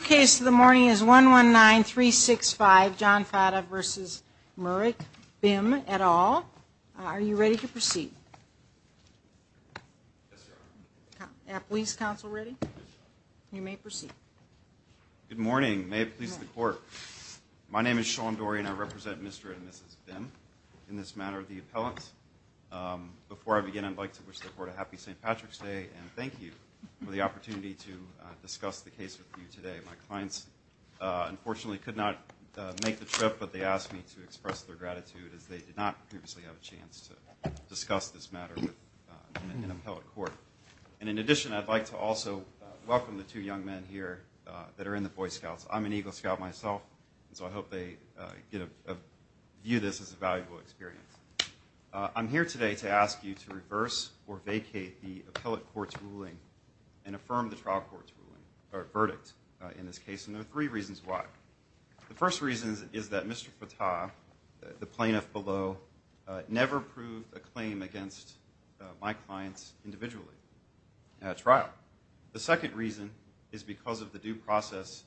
Your case of the morning is 119-365 John Fattah v. Muric Bim et al. Are you ready to proceed? Yes, Your Honor. Police counsel ready? You may proceed. Good morning. May it please the Court. My name is Sean Dorian. I represent Mr. and Mrs. Bim in this matter of the appellant. Before I begin, I'd like to wish the Court a happy St. Patrick's Day and thank you for the opportunity to discuss the case with you today. My clients unfortunately could not make the trip, but they asked me to express their gratitude as they did not previously have a chance to discuss this matter with an appellate court. In addition, I'd like to also welcome the two young men here that are in the Boy Scouts. I'm an Eagle Scout myself, so I hope they view this as a valuable experience. I'm here today to ask you to reverse or vacate the appellate court's ruling and affirm the trial court's ruling or verdict in this case, and there are three reasons why. The first reason is that Mr. Fattah, the plaintiff below, never proved a claim against my clients individually at trial. The second reason is because of the due process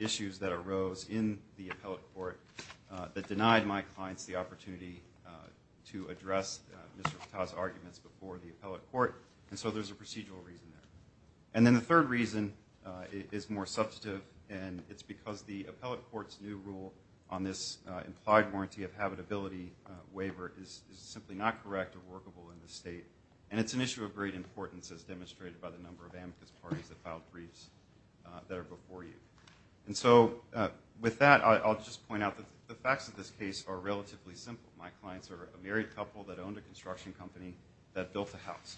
issues that arose in the appellate court that denied my clients the opportunity to address Mr. Fattah's arguments before the appellate court, and so there's a procedural reason there. And then the third reason is more substantive, and it's because the appellate court's new rule on this implied warranty of habitability waiver is simply not correct or workable in this state, and it's an issue of great importance as demonstrated by the number of amicus parties that filed briefs that are before you. And so with that, I'll just point out that the facts of this case are relatively simple. My clients are a married couple that owned a construction company that built a house.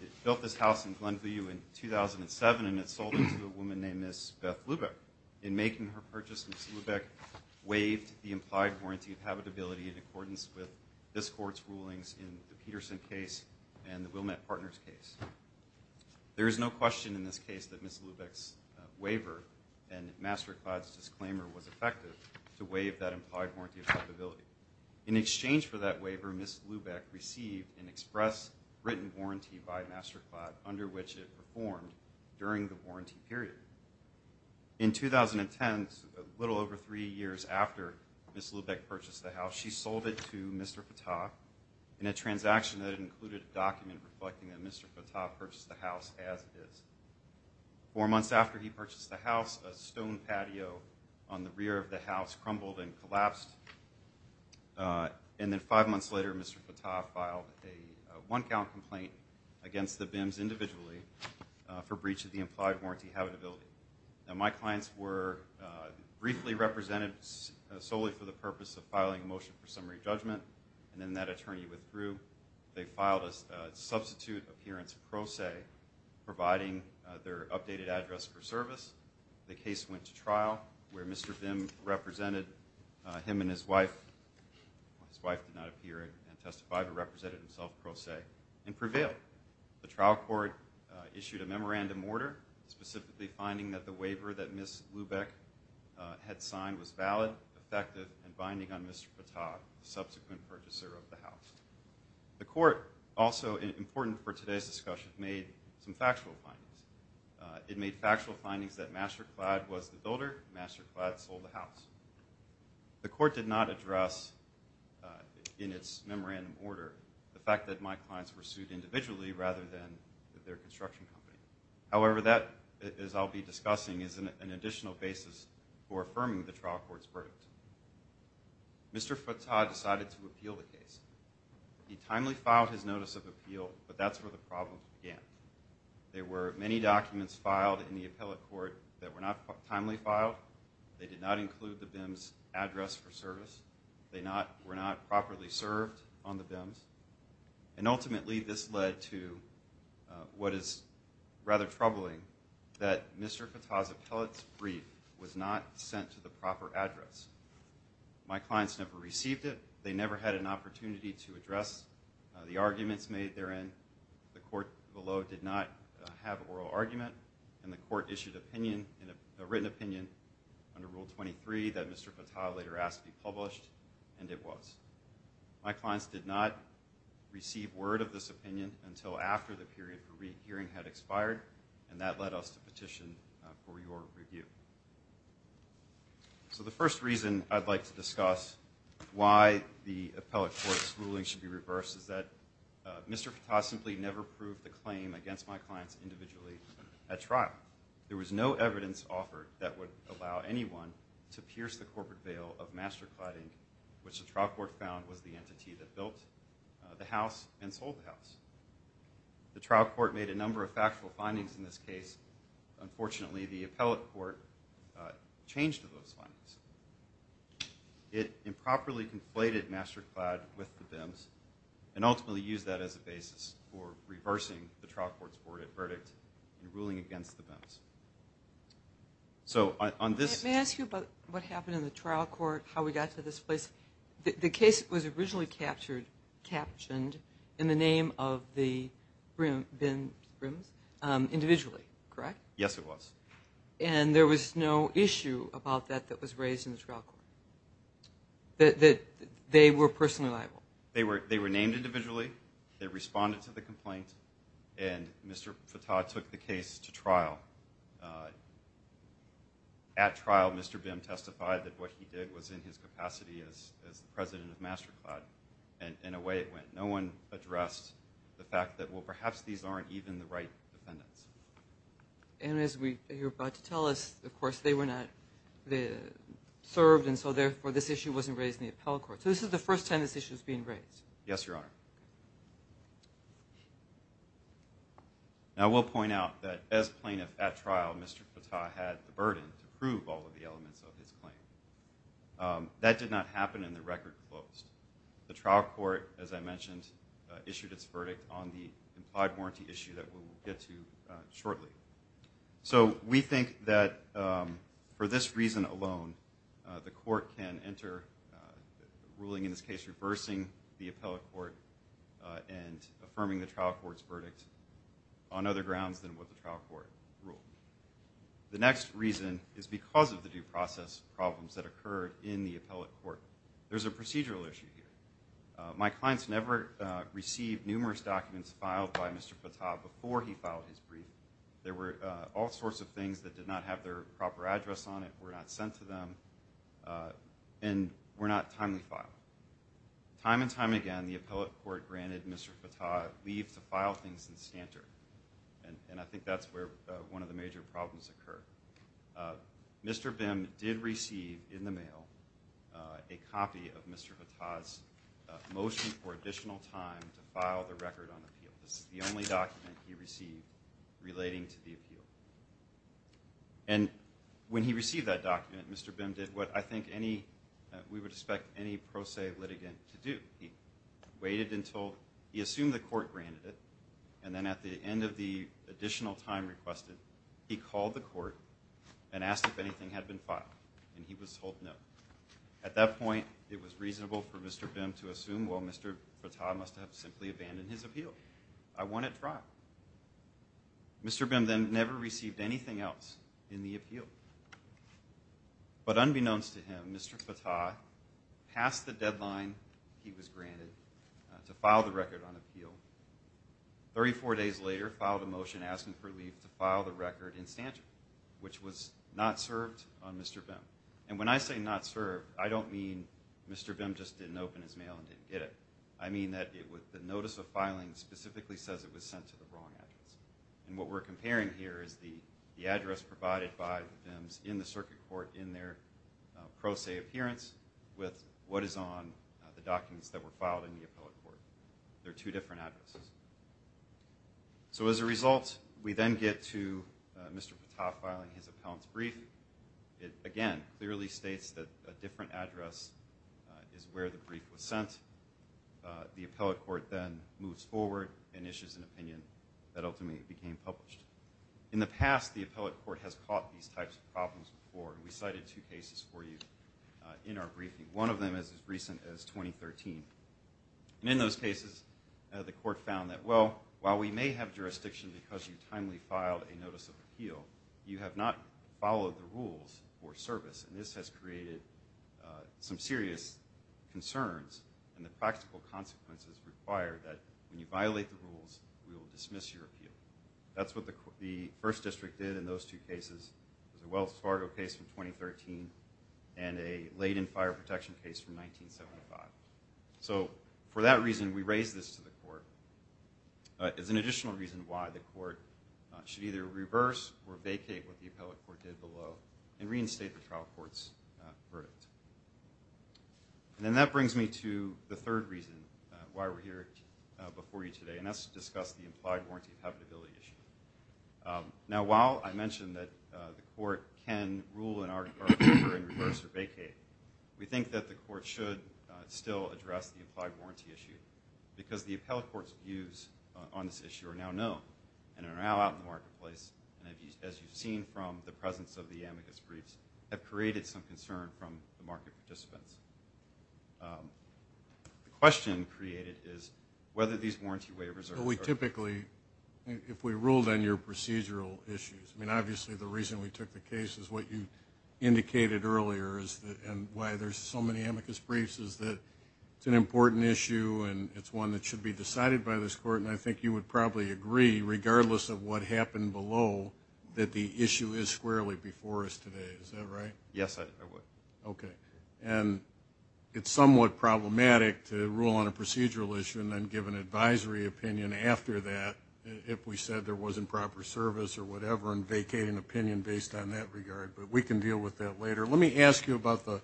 It built this house in Glenview in 2007, and it sold it to a woman named Miss Beth Lubeck. In making her purchase, Miss Lubeck waived the implied warranty of habitability in accordance with this court's rulings in the Peterson case and the Wilmette Partners case. There is no question in this case that Miss Lubeck's waiver and MasterClad's disclaimer was effective to waive that implied warranty of habitability. In exchange for that waiver, Miss Lubeck received an express written warranty by MasterClad under which it performed during the warranty period. In 2010, a little over three years after Miss Lubeck purchased the house, she sold it to Mr. Fattah in a transaction that included a document reflecting that Mr. Fattah purchased the house as is. Four months after he purchased the house, a stone patio on the rear of the house crumbled and collapsed. And then five months later, Mr. Fattah filed a one-count complaint against the BIMS individually for breach of the implied warranty habitability. Now, my clients were briefly represented solely for the purpose of filing a motion for summary judgment, and then that attorney withdrew. They filed a substitute appearance pro se, providing their updated address for service. The case went to trial, where Mr. BIMS represented him and his wife. His wife did not appear and testify, but represented himself pro se and prevailed. The trial court issued a memorandum order, specifically finding that the waiver that Miss Lubeck had signed was valid, effective, and binding on Mr. Fattah, the subsequent purchaser of the house. The court, also important for today's discussion, made some factual findings. It made factual findings that MasterClad was the builder. MasterClad sold the house. The court did not address in its memorandum order the fact that my clients were sued individually rather than their construction company. However, that, as I'll be discussing, is an additional basis for affirming the trial court's verdict. Mr. Fattah decided to appeal the case. He timely filed his notice of appeal, but that's where the problem began. There were many documents filed in the appellate court that were not timely filed. They did not include the BIMS address for service. They were not properly served on the BIMS. Ultimately, this led to what is rather troubling, that Mr. Fattah's appellate's brief was not sent to the proper address. My clients never received it. They never had an opportunity to address the arguments made therein. The court below did not have an oral argument, and the court issued a written opinion under Rule 23 that Mr. Fattah later asked to be published, and it was. My clients did not receive word of this opinion until after the period for re-hearing had expired, and that led us to petition for your review. So the first reason I'd like to discuss why the appellate court's ruling should be reversed is that Mr. Fattah simply never proved the claim against my clients individually at trial. There was no evidence offered that would allow anyone to pierce the corporate veil of mastercladding, which the trial court found was the entity that built the house and sold the house. The trial court made a number of factual findings in this case. Unfortunately, the appellate court changed those findings. It improperly conflated masterclad with the BIMS and ultimately used that as a basis for reversing the trial court's verdict in ruling against the BIMS. May I ask you about what happened in the trial court, how we got to this place? The case was originally captioned in the name of the BIMS individually, correct? Yes, it was. And there was no issue about that that was raised in the trial court, that they were personally liable? They were named individually. They responded to the complaint. And Mr. Fattah took the case to trial. At trial, Mr. BIM testified that what he did was in his capacity as the president of Masterclad, and away it went. No one addressed the fact that, well, perhaps these aren't even the right defendants. And as you're about to tell us, of course, they were not served, and so therefore this issue wasn't raised in the appellate court. So this is the first time this issue is being raised? Yes, Your Honor. Now I will point out that as plaintiff at trial, Mr. Fattah had the burden to prove all of the elements of his claim. That did not happen, and the record closed. The trial court, as I mentioned, issued its verdict on the implied warranty issue that we will get to shortly. So we think that for this reason alone, the court can enter a ruling in this case reversing the appellate court and affirming the trial court's verdict on other grounds than what the trial court ruled. The next reason is because of the due process problems that occurred in the appellate court. There's a procedural issue here. My clients never received numerous documents filed by Mr. Fattah before he filed his brief. There were all sorts of things that did not have their proper address on it, were not sent to them, and were not timely filed. Time and time again, the appellate court granted Mr. Fattah leave to file things in stanter, and I think that's where one of the major problems occur. Mr. Bim did receive in the mail a copy of Mr. Fattah's motion for additional time to file the record on appeal. This is the only document he received relating to the appeal. And when he received that document, Mr. Bim did what I think we would expect any pro se litigant to do. He assumed the court granted it, and then at the end of the additional time requested, he called the court and asked if anything had been filed, and he was told no. At that point, it was reasonable for Mr. Bim to assume, well, Mr. Fattah must have simply abandoned his appeal. I want it dropped. Mr. Bim then never received anything else in the appeal. But unbeknownst to him, Mr. Fattah passed the deadline he was granted to file the record on appeal. Thirty-four days later, filed a motion asking for leave to file the record in stanter, which was not served on Mr. Bim. And when I say not served, I don't mean Mr. Bim just didn't open his mail and didn't get it. I mean that the notice of filing specifically says it was sent to the wrong address. And what we're comparing here is the address provided by Bims in the circuit court in their pro se appearance with what is on the documents that were filed in the appellate court. They're two different addresses. So as a result, we then get to Mr. Fattah filing his appellant's brief. It, again, clearly states that a different address is where the brief was sent. The appellate court then moves forward and issues an opinion that ultimately became published. In the past, the appellate court has caught these types of problems before. We cited two cases for you in our briefing. One of them is as recent as 2013. And in those cases, the court found that, well, while we may have jurisdiction because you timely filed a notice of appeal, you have not followed the rules for service. And this has created some serious concerns. And the practical consequences require that when you violate the rules, we will dismiss your appeal. That's what the first district did in those two cases. It was a Wells Fargo case from 2013 and a Leyden Fire Protection case from 1975. So for that reason, we raise this to the court. It's an additional reason why the court should either reverse or vacate what the appellate court did below and reinstate the trial court's verdict. And then that brings me to the third reason why we're here before you today, and that's to discuss the implied warranty of habitability issue. Now, while I mentioned that the court can rule in our favor and reverse or vacate, we think that the court should still address the implied warranty issue because the appellate court's views on this issue are now known and are now out in the marketplace, and as you've seen from the presence of the amicus briefs, have created some concern from the market participants. The question created is whether these warranty waivers are in service. Well, we typically, if we ruled on your procedural issues, I mean, obviously the reason we took the case is what you indicated earlier and why there's so many amicus briefs is that it's an important issue and it's one that should be decided by this court, and I think you would probably agree, regardless of what happened below, that the issue is squarely before us today. Is that right? Yes, I would. Okay. And it's somewhat problematic to rule on a procedural issue and then give an advisory opinion after that if we said there was improper service or whatever and vacate an opinion based on that regard, but we can deal with that later. Let me ask you about the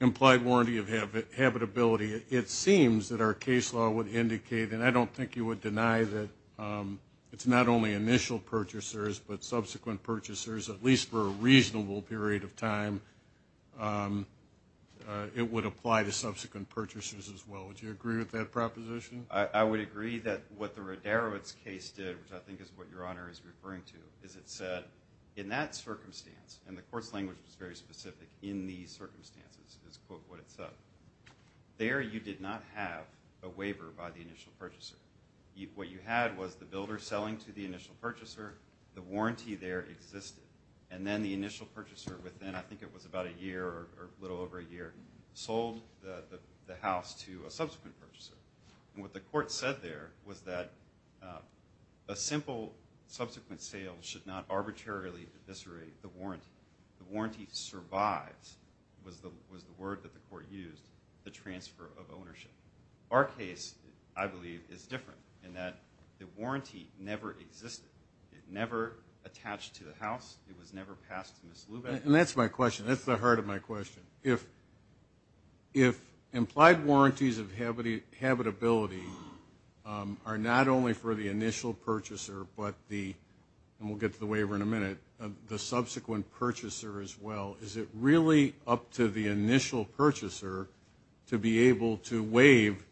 implied warranty of habitability. It seems that our case law would indicate, and I don't think you would deny that it's not only initial purchasers but subsequent purchasers, at least for a reasonable period of time, it would apply to subsequent purchasers as well. Would you agree with that proposition? I would agree that what the Roderowitz case did, which I think is what Your Honor is referring to, is it said, in that circumstance, and the court's language was very specific, in these circumstances is what it said, there you did not have a waiver by the initial purchaser. What you had was the builder selling to the initial purchaser, the warranty there existed, and then the initial purchaser, within I think it was about a year or a little over a year, sold the house to a subsequent purchaser. And what the court said there was that a simple subsequent sale should not arbitrarily eviscerate the warranty. The warranty survives, was the word that the court used, the transfer of ownership. Our case, I believe, is different in that the warranty never existed. It never attached to the house. It was never passed to Ms. Lubeck. And that's my question. That's the heart of my question. If implied warranties of habitability are not only for the initial purchaser but the, and we'll get to the waiver in a minute, the subsequent purchaser as well, is it really up to the initial purchaser to be able to waive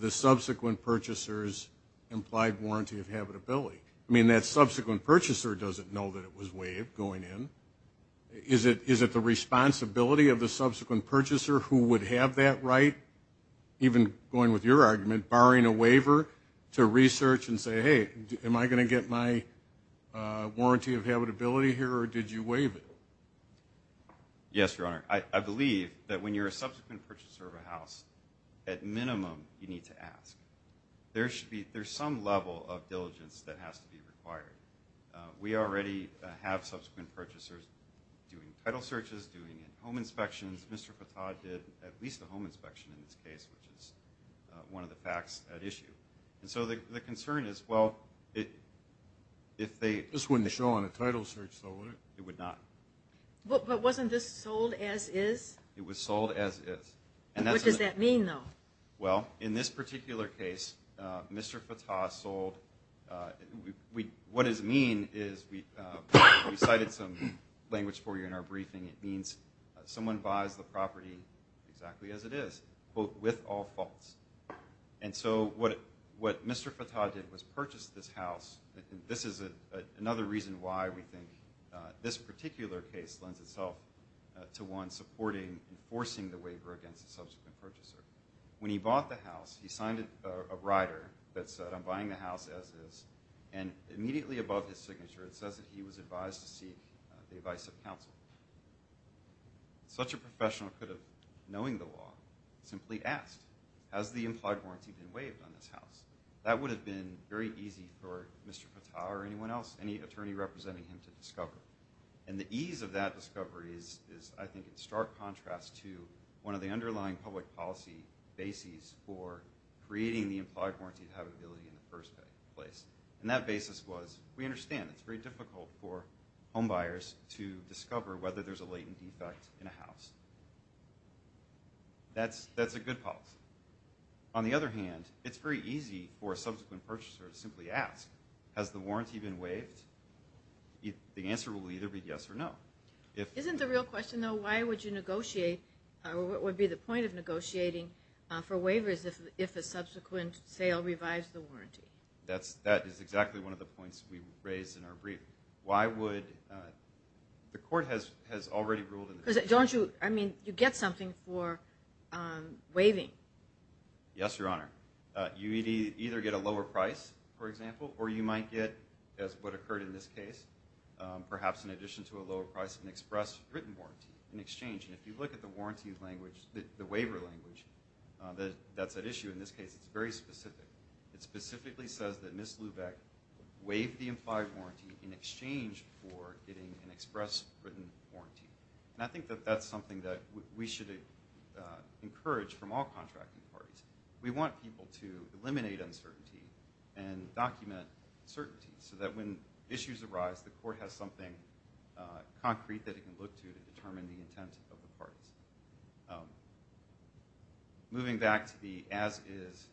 the subsequent purchaser's implied warranty of habitability? I mean, that subsequent purchaser doesn't know that it was waived going in. Is it the responsibility of the subsequent purchaser who would have that right, even going with your argument, barring a waiver to research and say, hey, am I going to get my warranty of habitability here or did you waive it? Yes, Your Honor. I believe that when you're a subsequent purchaser of a house, at minimum you need to ask. There should be, there's some level of diligence that has to be required. We already have subsequent purchasers doing title searches, doing home inspections. Mr. Fattah did at least a home inspection in this case, which is one of the facts at issue. And so the concern is, well, if they – This wouldn't show on a title search, though, would it? It would not. But wasn't this sold as is? It was sold as is. What does that mean, though? Well, in this particular case, Mr. Fattah sold, what is mean is, we cited some language for you in our briefing, it means someone buys the property exactly as it is, quote, with all faults. And so what Mr. Fattah did was purchase this house. This is another reason why we think this particular case lends itself to one supporting, enforcing the waiver against the subsequent purchaser. When he bought the house, he signed a rider that said, I'm buying the house as is, and immediately above his signature it says that he was advised to seek the advice of counsel. Such a professional could have, knowing the law, simply asked, has the implied warranty been waived on this house? That would have been very easy for Mr. Fattah or anyone else, any attorney representing him, to discover. And the ease of that discovery is, I think, in stark contrast to one of the underlying public policy bases for creating the implied warranty liability in the first place. And that basis was, we understand it's very difficult for homebuyers to discover whether there's a latent defect in a house. That's a good policy. On the other hand, it's very easy for a subsequent purchaser to simply ask, has the warranty been waived? The answer will either be yes or no. Isn't the real question, though, why would you negotiate, what would be the point of negotiating for waivers if a subsequent sale revives the warranty? That is exactly one of the points we raised in our brief. Why would, the court has already ruled in the case. Don't you, I mean, you get something for waiving. Yes, Your Honor. You either get a lower price, for example, or you might get, as what occurred in this case, perhaps in addition to a lower price, an express written warranty in exchange. And if you look at the warranty language, the waiver language, that's at issue in this case, it's very specific. It specifically says that Ms. Lubeck waived the implied warranty in exchange for getting an express written warranty. And I think that that's something that we should encourage from all contracting parties. We want people to eliminate uncertainty and document certainty so that when issues arise, the court has something concrete that it can look to to determine the intent of the parties. Moving back to the as is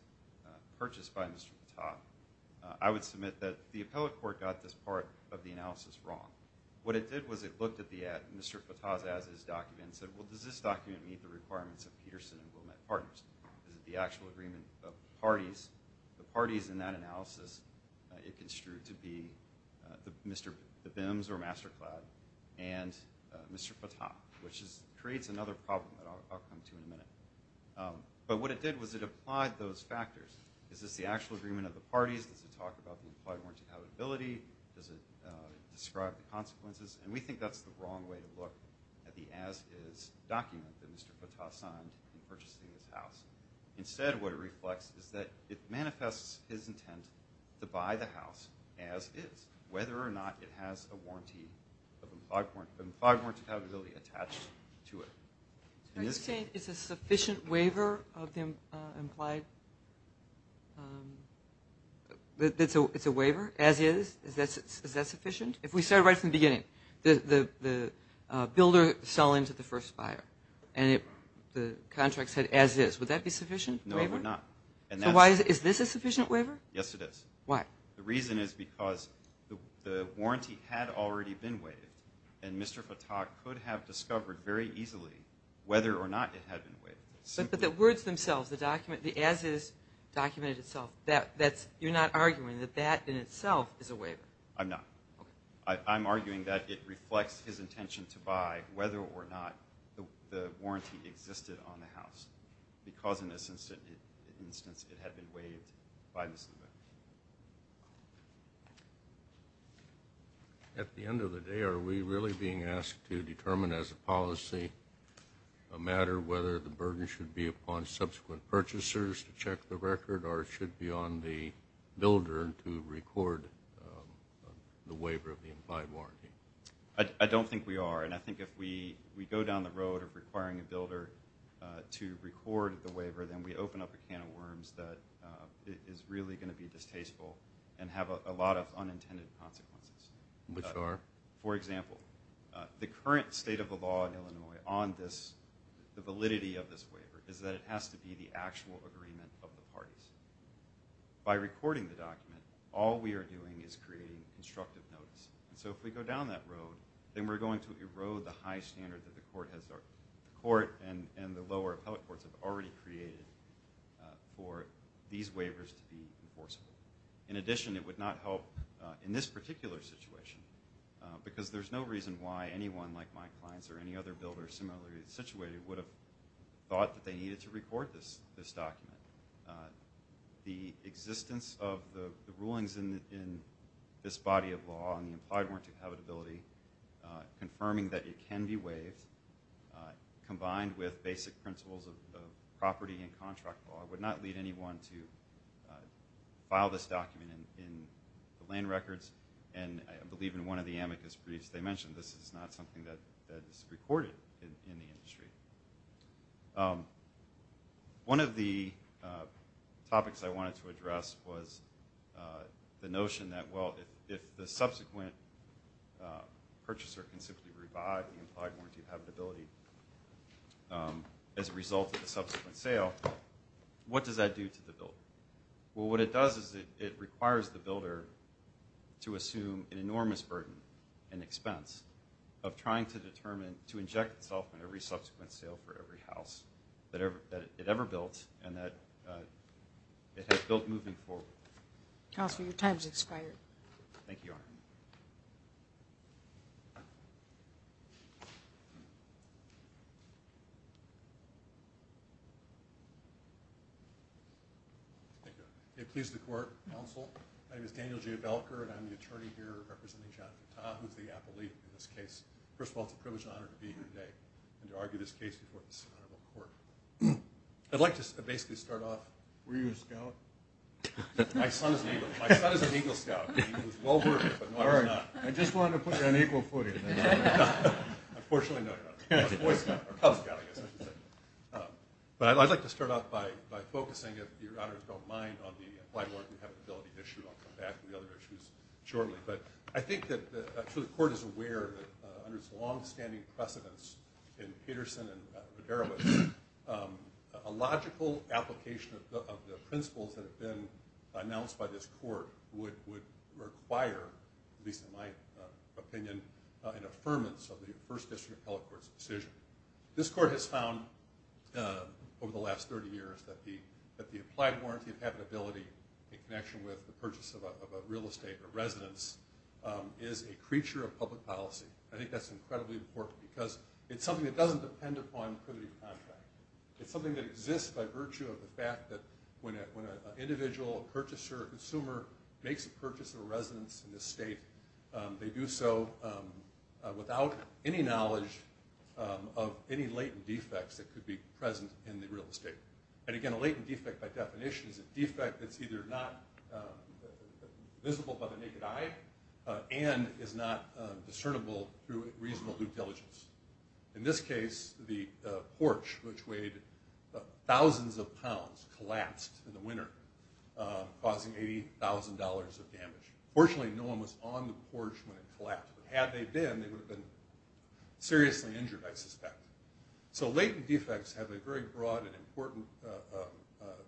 purchase by Mr. Patak, I would submit that the appellate court got this part of the analysis wrong. What it did was it looked at Mr. Patak's as is document and said, well, does this document meet the requirements of Peterson and Wilmette Partners? Is it the actual agreement of parties? The parties in that analysis, it construed to be the BIMS or MasterCloud and Mr. Patak, which creates another problem that I'll come to in a minute. But what it did was it applied those factors. Is this the actual agreement of the parties? Does it talk about the implied warranty compatibility? Does it describe the consequences? And we think that's the wrong way to look at the as is document that Mr. Patak signed in purchasing this house. Instead, what it reflects is that it manifests his intent to buy the house as is, whether or not it has a warranty of implied warranty compatibility attached to it. Are you saying it's a sufficient waiver of the implied? It's a waiver as is? Is that sufficient? If we start right from the beginning, the builder sell into the first buyer and the contract said as is, would that be sufficient waiver? No, it would not. Is this a sufficient waiver? Yes, it is. Why? The reason is because the warranty had already been waived and Mr. Patak could have discovered very easily whether or not it had been waived. But the words themselves, the document, the as is document itself, you're not arguing that that in itself is a waiver? I'm not. Okay. I'm arguing that it reflects his intention to buy whether or not the warranty existed on the house, because in this instance it had been waived by Mr. Patak. At the end of the day, are we really being asked to determine as a policy a matter of whether the burden should be upon subsequent purchasers to check the record or it should be on the builder to record the waiver of the implied warranty? I don't think we are. And I think if we go down the road of requiring a builder to record the waiver, then we open up a can of worms that is really going to be distasteful and have a lot of unintended consequences. Which are? For example, the current state of the law in Illinois on this, the validity of this waiver, is that it has to be the actual agreement of the parties. By recording the document, all we are doing is creating constructive notice. So if we go down that road, then we're going to erode the high standard that the court and the lower appellate courts have already created for these waivers to be enforceable. In addition, it would not help in this particular situation, because there's no reason why anyone like my clients or any other builder similarly situated would have thought that they needed to record this document. The existence of the rulings in this body of law on the implied warranty of habitability, confirming that it can be waived, combined with basic principles of property and contract law, would not lead anyone to file this document in the land records. And I believe in one of the amicus briefs they mentioned this is not something that is recorded in the industry. One of the topics I wanted to address was the notion that, well, if the subsequent purchaser can simply revive the implied warranty of habitability as a result of the subsequent sale, what does that do to the builder? Well, what it does is it requires the builder to assume an enormous burden and expense of trying to inject itself in every subsequent sale for every house that it ever built and that it has built moving forward. Counselor, your time has expired. Thank you, Your Honor. Thank you, Your Honor. It pleases the court, counsel. My name is Daniel J. Belker, and I'm the attorney here representing John Fattah, who is the appellee in this case. First of all, it's a privilege and honor to be here today and to argue this case before this honorable court. I'd like to basically start off. Were you a scout? My son is an Eagle Scout. He was well-versed, but no, he's not. I just wanted to put you on equal footing. Unfortunately, no, you're not. He's a Boy Scout, or Cub Scout, I guess I should say. But I'd like to start off by focusing, if Your Honors don't mind, on the implied warranty of habitability issue. I'll come back to the other issues shortly. But I think that the court is aware that under its longstanding precedence in Peterson and Roderick, a logical application of the principles that have been announced by this court would require, at least in my opinion, an affirmance of the First District Appellate Court's decision. This court has found, over the last 30 years, that the implied warranty of habitability, in connection with the purchase of a real estate or residence, is a creature of public policy. I think that's incredibly important, because it's something that doesn't depend upon privity of contract. It's something that exists by virtue of the fact that when an individual, a purchaser, a consumer, makes a purchase of a residence in this state, they do so without any knowledge of any latent defects that could be present in the real estate. And again, a latent defect, by definition, is a defect that's either not visible by the naked eye and is not discernible through reasonable due diligence. In this case, the porch, which weighed thousands of pounds, collapsed in the winter, causing $80,000 of damage. Fortunately, no one was on the porch when it collapsed. Had they been, they would have been seriously injured, I suspect. So latent defects have a very broad and important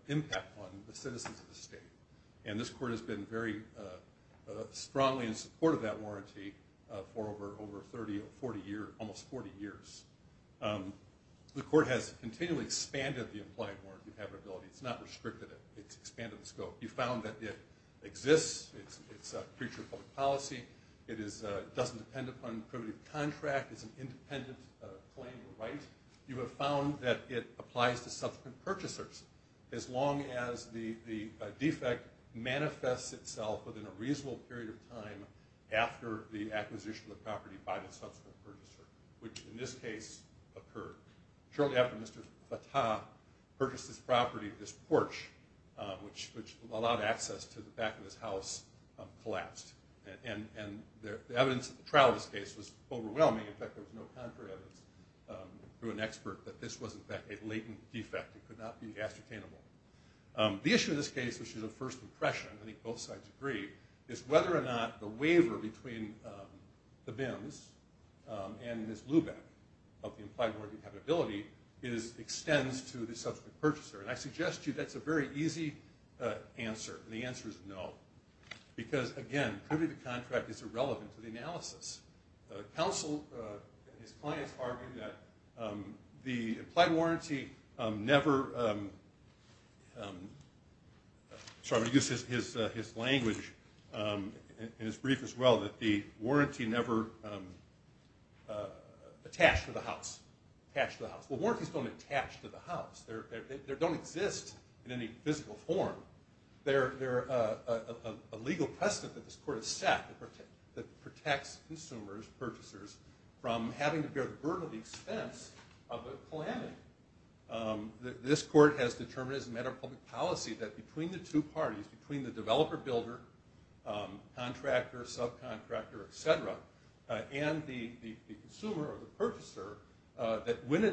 impact on the citizens of the state. And this court has been very strongly in support of that warranty for over 30 or 40 years, almost 40 years. The court has continually expanded the implied warranty of habitability. It's not restricted it. It's expanded the scope. You've found that it exists. It's a creature of public policy. It doesn't depend upon privity of contract. It's an independent claim of right. You have found that it applies to subsequent purchasers. As long as the defect manifests itself within a reasonable period of time after the acquisition of the property by the subsequent purchaser, which in this case occurred. Shortly after Mr. Fattah purchased this property, this porch, which allowed access to the back of his house, collapsed. And the evidence of the trial of this case was overwhelming. In fact, there was no contrary evidence through an expert that this was, in fact, a latent defect. It could not be ascertainable. The issue in this case, which is a first impression, I think both sides agree, is whether or not the waiver between the BIMS and Ms. Lubeck of the implied warranty of habitability extends to the subsequent purchaser. And I suggest to you that's a very easy answer, and the answer is no. Because, again, privity of contract is irrelevant to the analysis. Counsel and his clients argue that the implied warranty never – sorry, I'm going to use his language in his brief as well – that the warranty never attached to the house. Attached to the house. Well, warranties don't attach to the house. They don't exist in any physical form. There's a legal precedent that this court has set that protects consumers, purchasers, from having to bear the burden of the expense of a calamity. This court has determined as a matter of public policy that between the two parties, between the developer, builder, contractor, subcontractor, et cetera, and the consumer or the purchaser, that when a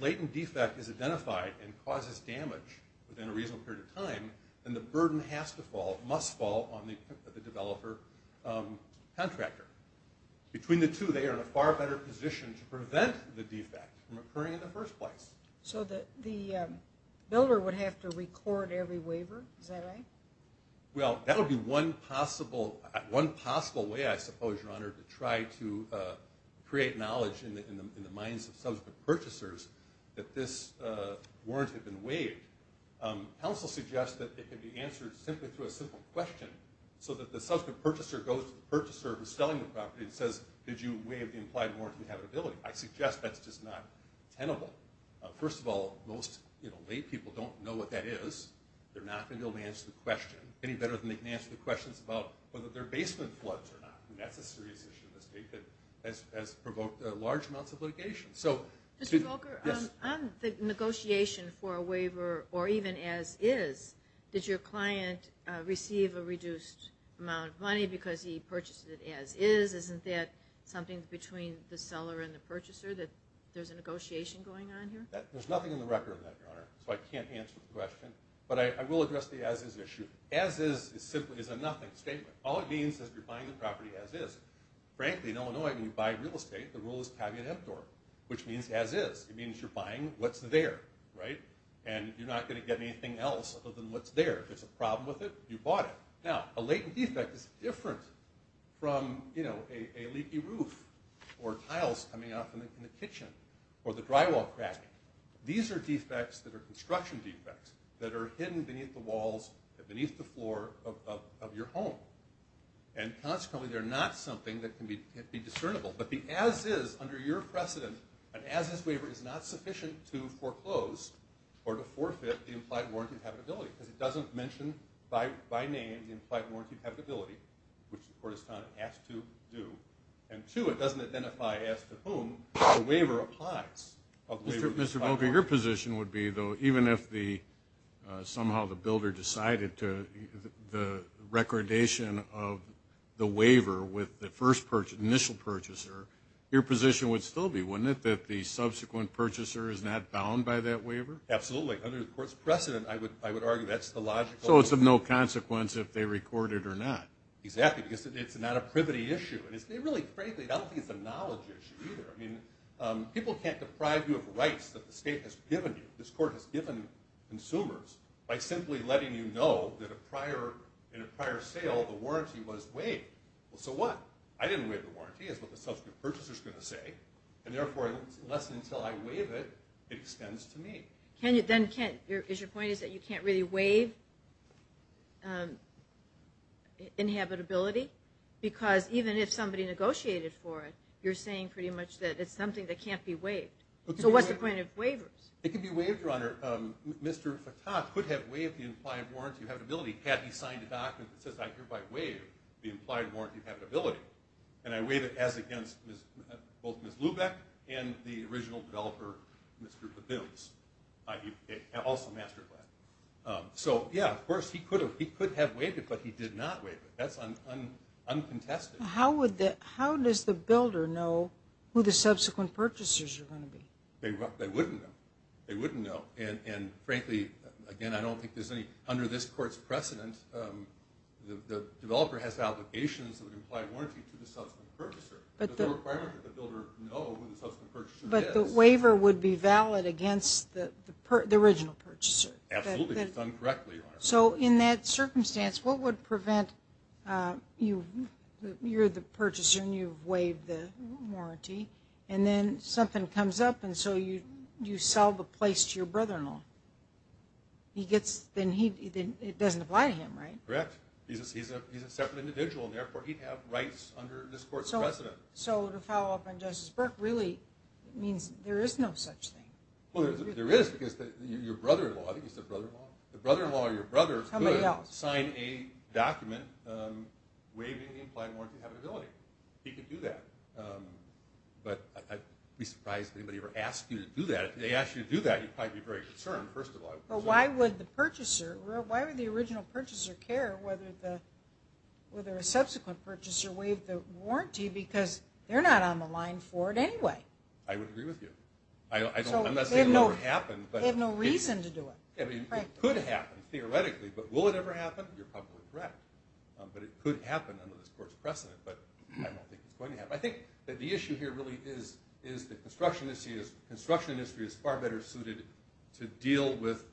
latent defect is identified and causes damage within a reasonable period of time, then the burden has to fall, must fall on the developer-contractor. Between the two, they are in a far better position to prevent the defect from occurring in the first place. So the builder would have to record every waiver? Is that right? Well, that would be one possible way, I suppose, Your Honor, to try to create knowledge in the minds of subsequent purchasers that this warrant had been waived. Counsel suggests that it could be answered simply through a simple question so that the subsequent purchaser goes to the purchaser who's selling the property and says, did you waive the implied warrant of inhabitability? I suggest that's just not tenable. First of all, most laypeople don't know what that is. They're not going to be able to answer the question any better than they can answer the questions about whether there are basement floods or not, and that's a serious issue in this state that has provoked large amounts of litigation. Mr. Volker, on the negotiation for a waiver, or even as-is, did your client receive a reduced amount of money because he purchased it as-is? Isn't that something between the seller and the purchaser, that there's a negotiation going on here? There's nothing in the record on that, Your Honor, so I can't answer the question. But I will address the as-is issue. As-is is a nothing statement. All it means is you're buying the property as-is. Frankly, in Illinois, when you buy real estate, the rule is caveat emptor, which means as-is. It means you're buying what's there, right? And you're not going to get anything else other than what's there. If there's a problem with it, you bought it. Now, a latent defect is different from a leaky roof or tiles coming off in the kitchen or the drywall cracking. These are defects that are construction defects that are hidden beneath the walls and beneath the floor of your home. And consequently, they're not something that can be discernible. But the as-is under your precedent, an as-is waiver is not sufficient to foreclose or to forfeit the implied warranty of habitability because it doesn't mention by name the implied warranty of habitability, which the court has found it has to do. And, two, it doesn't identify as to whom the waiver applies. Mr. Volker, your position would be, though, even if somehow the builder decided the recordation of the waiver with the initial purchaser, your position would still be, wouldn't it, that the subsequent purchaser is not bound by that waiver? Absolutely. Under the court's precedent, I would argue that's the logical... So it's of no consequence if they record it or not. Exactly, because it's not a privity issue. And really, frankly, I don't think it's a knowledge issue either. People can't deprive you of rights that the state has given you, that this court has given consumers, by simply letting you know that in a prior sale the warranty was waived. Well, so what? I didn't waive the warranty, is what the subsequent purchaser is going to say. And therefore, unless and until I waive it, it extends to me. Is your point is that you can't really waive inhabitability? Because even if somebody negotiated for it, you're saying pretty much that it's something that can't be waived. So what's the point of waivers? It can be waived, Your Honor. Mr. Fattah could have waived the implied warranty of inhabitability had he signed a document that says, I hereby waive the implied warranty of inhabitability. And I waive it as against both Ms. Lubeck and the original developer, Mr. Fabilis, also MasterClass. So, yeah, of course, he could have waived it, but he did not waive it. That's uncontested. How does the builder know who the subsequent purchasers are going to be? They wouldn't know. They wouldn't know. And, frankly, again, I don't think there's any under this court's precedent. The developer has applications of an implied warranty to the subsequent purchaser. Does the requirement of the builder know who the subsequent purchaser is? But the waiver would be valid against the original purchaser. Absolutely. It's done correctly, Your Honor. So in that circumstance, what would prevent you're the purchaser and you've waived the warranty, and then something comes up and so you sell the place to your brother-in-law? Then it doesn't apply to him, right? Correct. He's a separate individual, and therefore he'd have rights under this court's precedent. So to follow up on Justice Burke, really it means there is no such thing. Well, there is because your brother-in-law, I think you said brother-in-law. The brother-in-law or your brother could sign a document waiving the implied warranty of inhabitability. He could do that. But I'd be surprised if anybody ever asked you to do that. If they asked you to do that, you'd probably be very concerned, first of all. But why would the purchaser, why would the original purchaser care whether a subsequent purchaser waived the warranty because they're not on the line for it anyway? I would agree with you. I'm not saying it will ever happen. They have no reason to do it. It could happen theoretically, but will it ever happen? You're probably correct. But it could happen under this court's precedent. But I don't think it's going to happen. I think that the issue here really is that construction industry is far better suited to deal with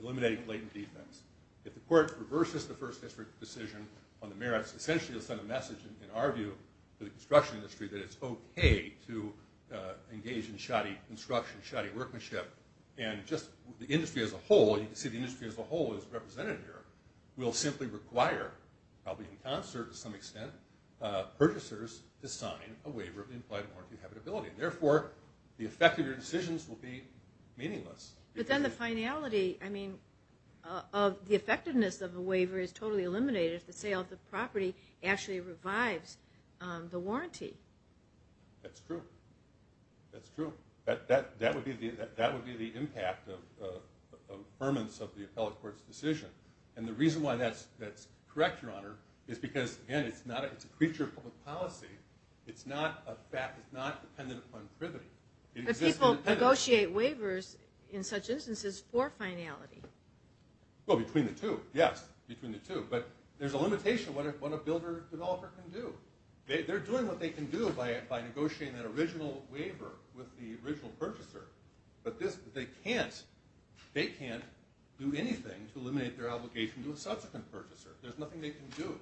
eliminating blatant defense. If the court reverses the First District decision on the merits, essentially it'll send a message, in our view, to the construction industry that it's okay to engage in shoddy construction, shoddy workmanship, and just the industry as a whole, and you can see the industry as a whole is represented here, will simply require, probably in concert to some extent, purchasers to sign a waiver of the implied warranty habitability. Therefore, the effect of your decisions will be meaningless. But then the finality, I mean, of the effectiveness of a waiver is totally eliminated if the sale of the property actually revives the warranty. That's true. That's true. That would be the impact of ferments of the appellate court's decision. And the reason why that's correct, Your Honor, is because, again, it's a creature of public policy. It's not dependent upon privity. It exists independently. But people negotiate waivers in such instances for finality. Well, between the two, yes, between the two. But there's a limitation of what a builder, developer can do. They're doing what they can do by negotiating that original waiver with the original purchaser. But they can't do anything to eliminate their obligation to a subsequent purchaser. There's nothing they can do.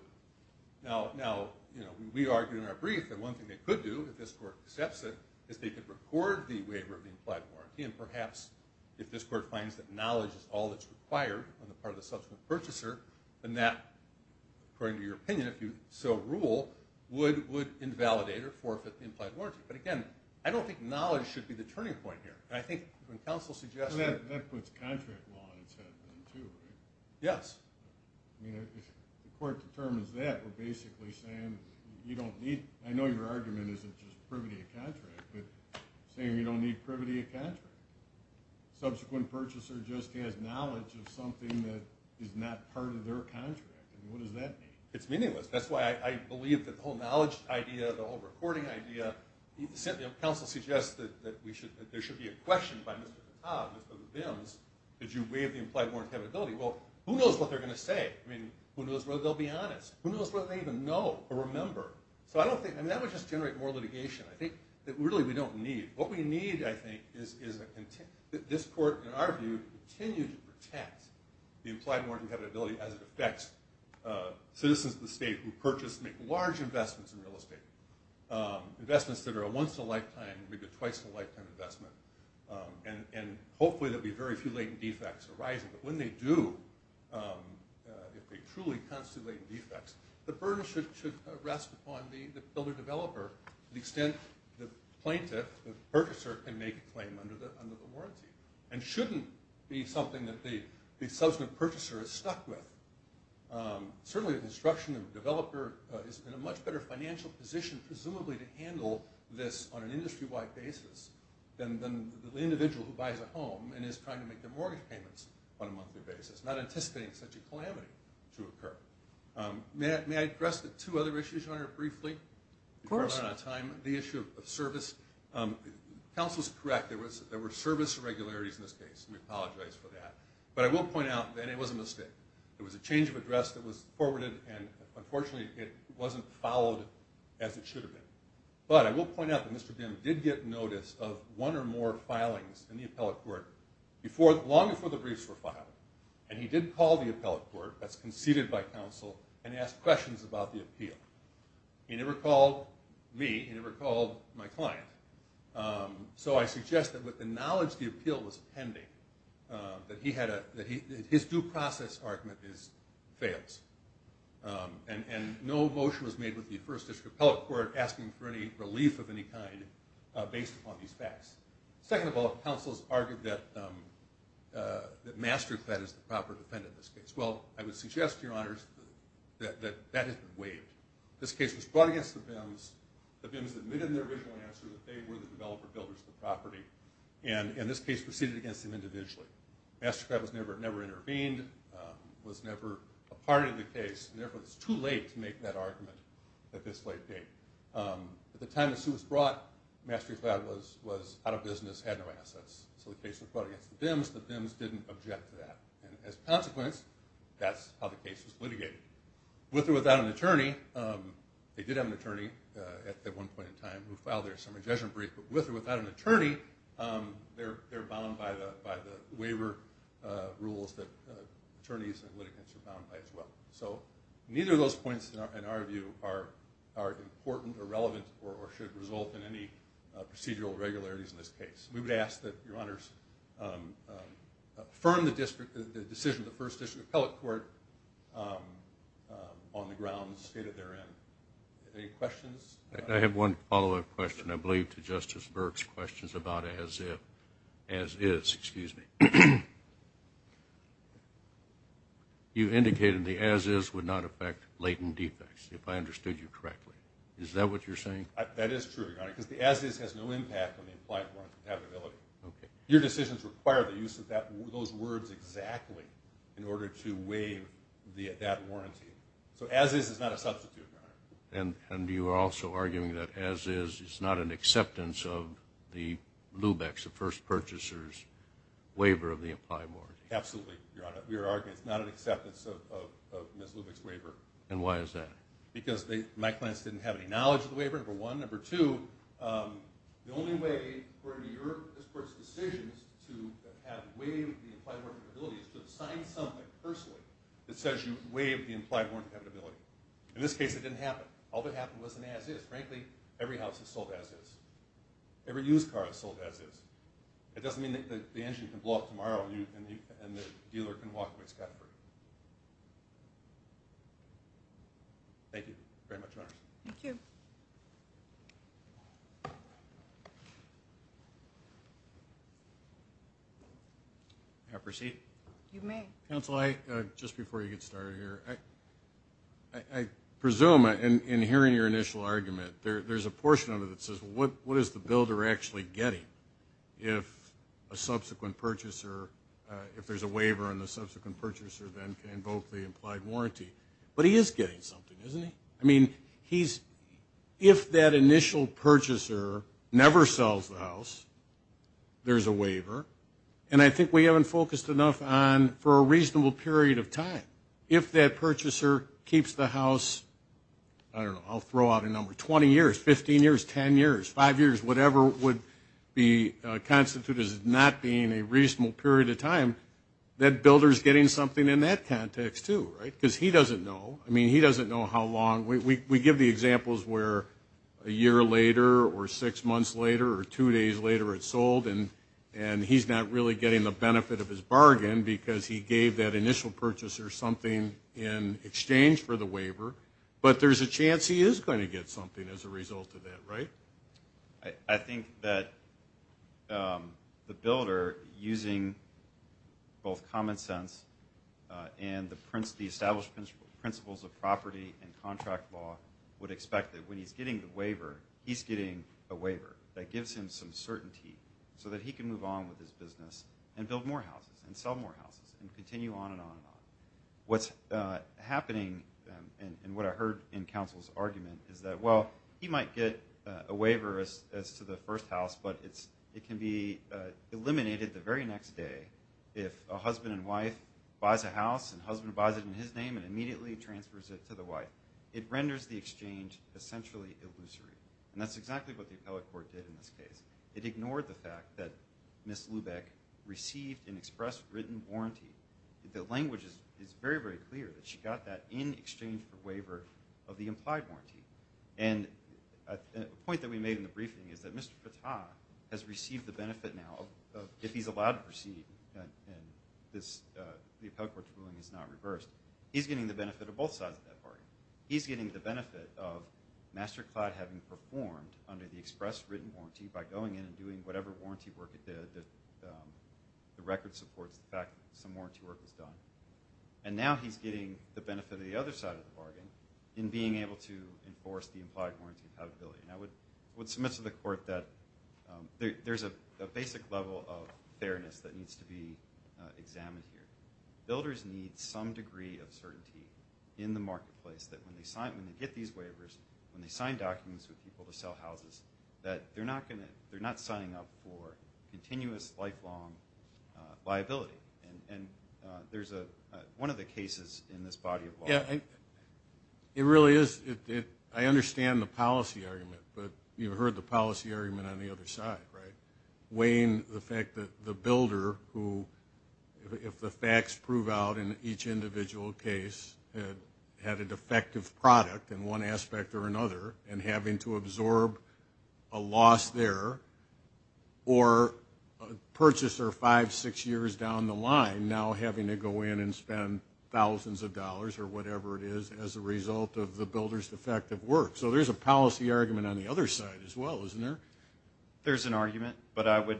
Now, we argued in our brief that one thing they could do, if this court accepts it, is they could record the waiver of the implied warranty. And perhaps if this court finds that knowledge is all that's required on the part of the subsequent purchaser, then that, according to your opinion, if you so rule, would invalidate or forfeit the implied warranty. But, again, I don't think knowledge should be the turning point here. And I think when counsel suggests... That puts contract law on its head, too, right? Yes. I mean, if the court determines that, we're basically saying you don't need... I know your argument isn't just privity of contract, but saying you don't need privity of contract. Subsequent purchaser just has knowledge of something that is not part of their contract. I mean, what does that mean? It's meaningless. That's why I believe that the whole knowledge idea, the whole recording idea, counsel suggests that there should be a question by Mr. Cobb, Mr. Vims, did you waive the implied warranty compatibility? Well, who knows what they're going to say? I mean, who knows whether they'll be honest? Who knows whether they even know or remember? So I don't think... I mean, that would just generate more litigation. I think that really we don't need... What we need, I think, is that this court, in our view, continue to protect the implied warranty compatibility as it affects citizens of the state who purchase and make large investments in real estate, investments that are a once-in-a-lifetime, maybe twice-in-a-lifetime investment, and hopefully there'll be very few latent defects arising. But when they do, if they truly constitute latent defects, the burden should rest upon the builder-developer to the extent the plaintiff, the purchaser, can make a claim under the warranty and shouldn't be something that the substantive purchaser is stuck with. Certainly, the construction developer is in a much better financial position, presumably, to handle this on an industry-wide basis than the individual who buys a home and is trying to make their mortgage payments on a monthly basis, not anticipating such a calamity to occur. May I address the two other issues, Your Honor, briefly? Of course. The issue of service. Counsel is correct. There were service irregularities in this case, and we apologize for that. But I will point out that it was a mistake. It was a change of address that was forwarded, and unfortunately it wasn't followed as it should have been. But I will point out that Mr. Bim did get notice of one or more filings in the appellate court long before the briefs were filed, and he did call the appellate court that's conceded by counsel and ask questions about the appeal. He never called me. He never called my client. So I suggest that with the knowledge the appeal was pending, that his due process argument fails. And no motion was made with the First District appellate court asking for any relief of any kind based upon these facts. Second of all, counsel has argued that MasterCled is the proper defendant in this case. Well, I would suggest to your honors that that has been waived. This case was brought against the Bims. The Bims admitted in their original answer that they were the developer builders of the property, and this case proceeded against them individually. MasterCled never intervened, was never a part of the case, and therefore it's too late to make that argument at this late date. At the time the suit was brought, MasterCled was out of business, had no assets. So the case was brought against the Bims. The Bims didn't object to that. And as a consequence, that's how the case was litigated. With or without an attorney, they did have an attorney at one point in time who filed their summary judgment brief, but with or without an attorney, they're bound by the waiver rules that attorneys and litigants are bound by as well. So neither of those points, in our view, are important or relevant or should result in any procedural regularities in this case. We would ask that Your Honors affirm the decision of the First District Appellate Court on the grounds stated therein. Any questions? I have one follow-up question, I believe, to Justice Burke's questions about as-if. As-is, excuse me. You indicated the as-is would not affect latent defects, if I understood you correctly. Is that what you're saying? That is true, Your Honor, because the as-is has no impact on the implied warrant compatibility. Okay. Your decisions require the use of those words exactly in order to waive that warranty. So as-is is not a substitute, Your Honor. And you are also arguing that as-is is not an acceptance of the LUBEX, the first purchaser's waiver of the implied warranty. Absolutely, Your Honor. We are arguing it's not an acceptance of Ms. LUBEX's waiver. And why is that? Because my clients didn't have any knowledge of the waiver, number one. Number two, the only way for this Court's decisions to have waived the implied warranty compatibility is to assign something personally that says you waived the implied warranty compatibility. In this case, it didn't happen. All that happened was an as-is. Frankly, every house has sold as-is. Every used car has sold as-is. It doesn't mean that the engine can blow up tomorrow and the dealer can walk away scot-free. Thank you very much, Your Honor. Thank you. May I proceed? You may. Counsel, just before you get started here, I presume in hearing your initial argument, there's a portion of it that says, well, what is the builder actually getting if a subsequent purchaser, if there's a waiver and the subsequent purchaser then can invoke the implied warranty? But he is getting something, isn't he? I mean, if that initial purchaser never sells the house, there's a waiver. And I think we haven't focused enough on, for a reasonable period of time, if that purchaser keeps the house, I don't know, I'll throw out a number, 20 years, 15 years, 10 years, 5 years, whatever would constitute as not being a reasonable period of time, that builder is getting something in that context too, right? Because he doesn't know. I mean, he doesn't know how long. We give the examples where a year later or six months later or two days later it's sold and he's not really getting the benefit of his bargain because he gave that initial purchaser something in exchange for the waiver. But there's a chance he is going to get something as a result of that, right? I think that the builder, using both common sense and the established principles of property and contract law, would expect that when he's getting the waiver, he's getting a waiver. That gives him some certainty so that he can move on with his business and build more houses and sell more houses and continue on and on and on. What's happening and what I heard in counsel's argument is that, well, he might get a waiver as to the first house, but it can be eliminated the very next day if a husband and wife buys a house and the husband buys it in his name and immediately transfers it to the wife. It renders the exchange essentially illusory. And that's exactly what the appellate court did in this case. It ignored the fact that Ms. Lubeck received an express written warranty. The language is very, very clear that she got that in exchange for waiver of the implied warranty. And a point that we made in the briefing is that Mr. Fattah has received the benefit now of if he's allowed to proceed and the appellate court's ruling is not reversed, he's getting the benefit of both sides of that bargain. He's getting the benefit of MasterCloud having performed under the express written warranty by going in and doing whatever warranty work it did. The record supports the fact that some warranty work was done. And now he's getting the benefit of the other side of the bargain in being able to enforce the implied warranty compatibility. And I would submit to the court that there's a basic level of fairness that needs to be examined here. Builders need some degree of certainty in the marketplace that when they get these waivers, when they sign documents with people to sell houses, that they're not signing up for continuous, lifelong liability. And there's one of the cases in this body of law. Yeah, it really is. I understand the policy argument, but you've heard the policy argument on the other side, right? Including the fact that the builder who, if the facts prove out in each individual case, had a defective product in one aspect or another and having to absorb a loss there or purchase her five, six years down the line, now having to go in and spend thousands of dollars or whatever it is as a result of the builder's defective work. So there's a policy argument on the other side as well, isn't there? There's an argument, but I would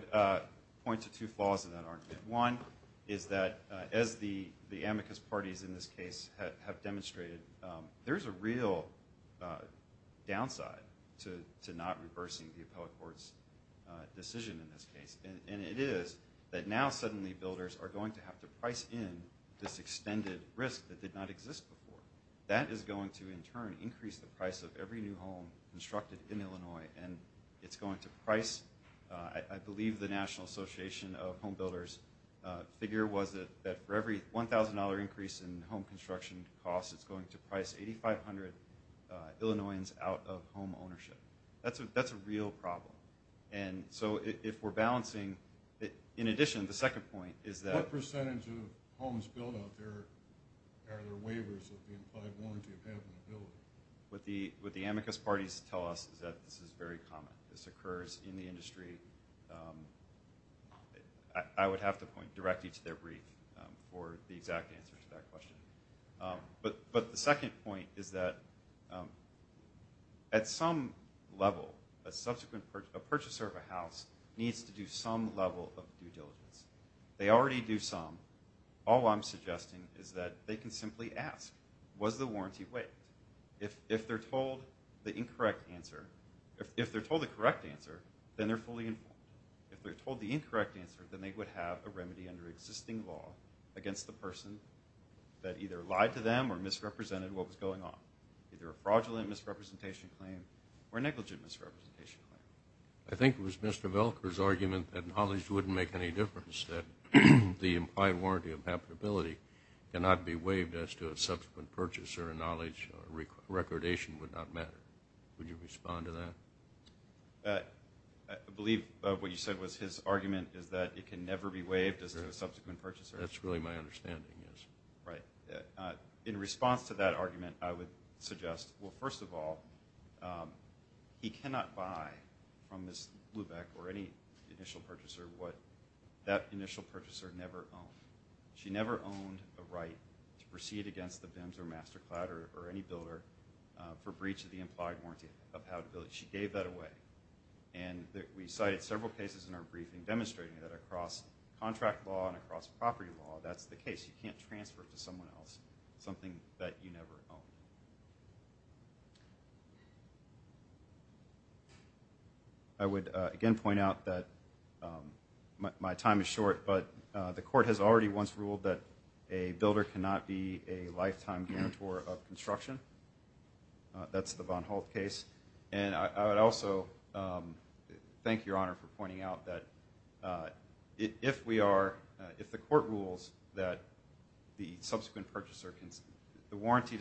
point to two flaws in that argument. One is that as the amicus parties in this case have demonstrated, there's a real downside to not reversing the appellate court's decision in this case. And it is that now suddenly builders are going to have to price in this extended risk that did not exist before. That is going to, in turn, increase the price of every new home constructed in Illinois, and it's going to price, I believe, the National Association of Home Builders' figure was that for every $1,000 increase in home construction costs, it's going to price 8,500 Illinoisans out of home ownership. That's a real problem. And so if we're balancing, in addition, the second point is that... ...are there waivers of the implied warranty of having a building? What the amicus parties tell us is that this is very common. This occurs in the industry. I would have to point directly to their brief for the exact answer to that question. But the second point is that at some level, a purchaser of a house needs to do some level of due diligence. They already do some. All I'm suggesting is that they can simply ask, was the warranty waived? If they're told the incorrect answer, if they're told the correct answer, then they're fully informed. If they're told the incorrect answer, then they would have a remedy under existing law against the person that either lied to them or misrepresented what was going on, either a fraudulent misrepresentation claim or a negligent misrepresentation claim. I think it was Mr. Velker's argument that knowledge wouldn't make any difference, that the implied warranty of habitability cannot be waived as to a subsequent purchase or a knowledge recordation would not matter. Would you respond to that? I believe what you said was his argument is that it can never be waived as to a subsequent purchase. That's really my understanding, yes. Right. In response to that argument, I would suggest, well, first of all, he cannot buy from Ms. Lubeck or any initial purchaser what that initial purchaser never owned. She never owned a right to proceed against the BIMS or MasterClad or any builder for breach of the implied warranty of habitability. She gave that away. We cited several cases in our briefing demonstrating that across contract law and across property law, that's the case. You can't transfer it to someone else, something that you never owned. I would, again, point out that my time is short, but the court has already once ruled that a builder cannot be a lifetime guarantor of construction. That's the Von Holt case. And I would also thank Your Honor for pointing out that if we are, if the court rules that the subsequent purchaser can, the warranty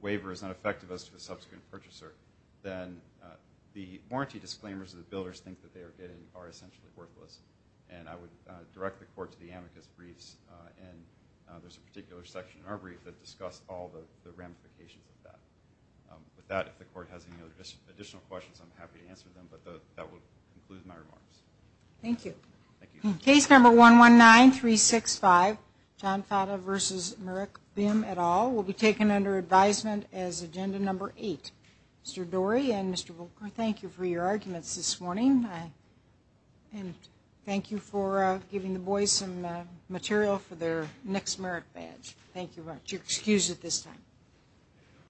waiver is not effective as to the subsequent purchaser, then the warranty disclaimers that the builders think that they are getting are essentially worthless. And I would direct the court to the amicus briefs, and there's a particular section in our brief that discussed all the ramifications of that. With that, if the court has any additional questions, I'm happy to answer them. But that will conclude my remarks. Thank you. Thank you. Case number 119365, Jon Fata v. Merrick Bim et al., will be taken under advisement as agenda number 8. Mr. Dorey and Mr. Wilker, thank you for your arguments this morning. And thank you for giving the boys some material for their next Merrick badge. Thank you very much. You're excused at this time.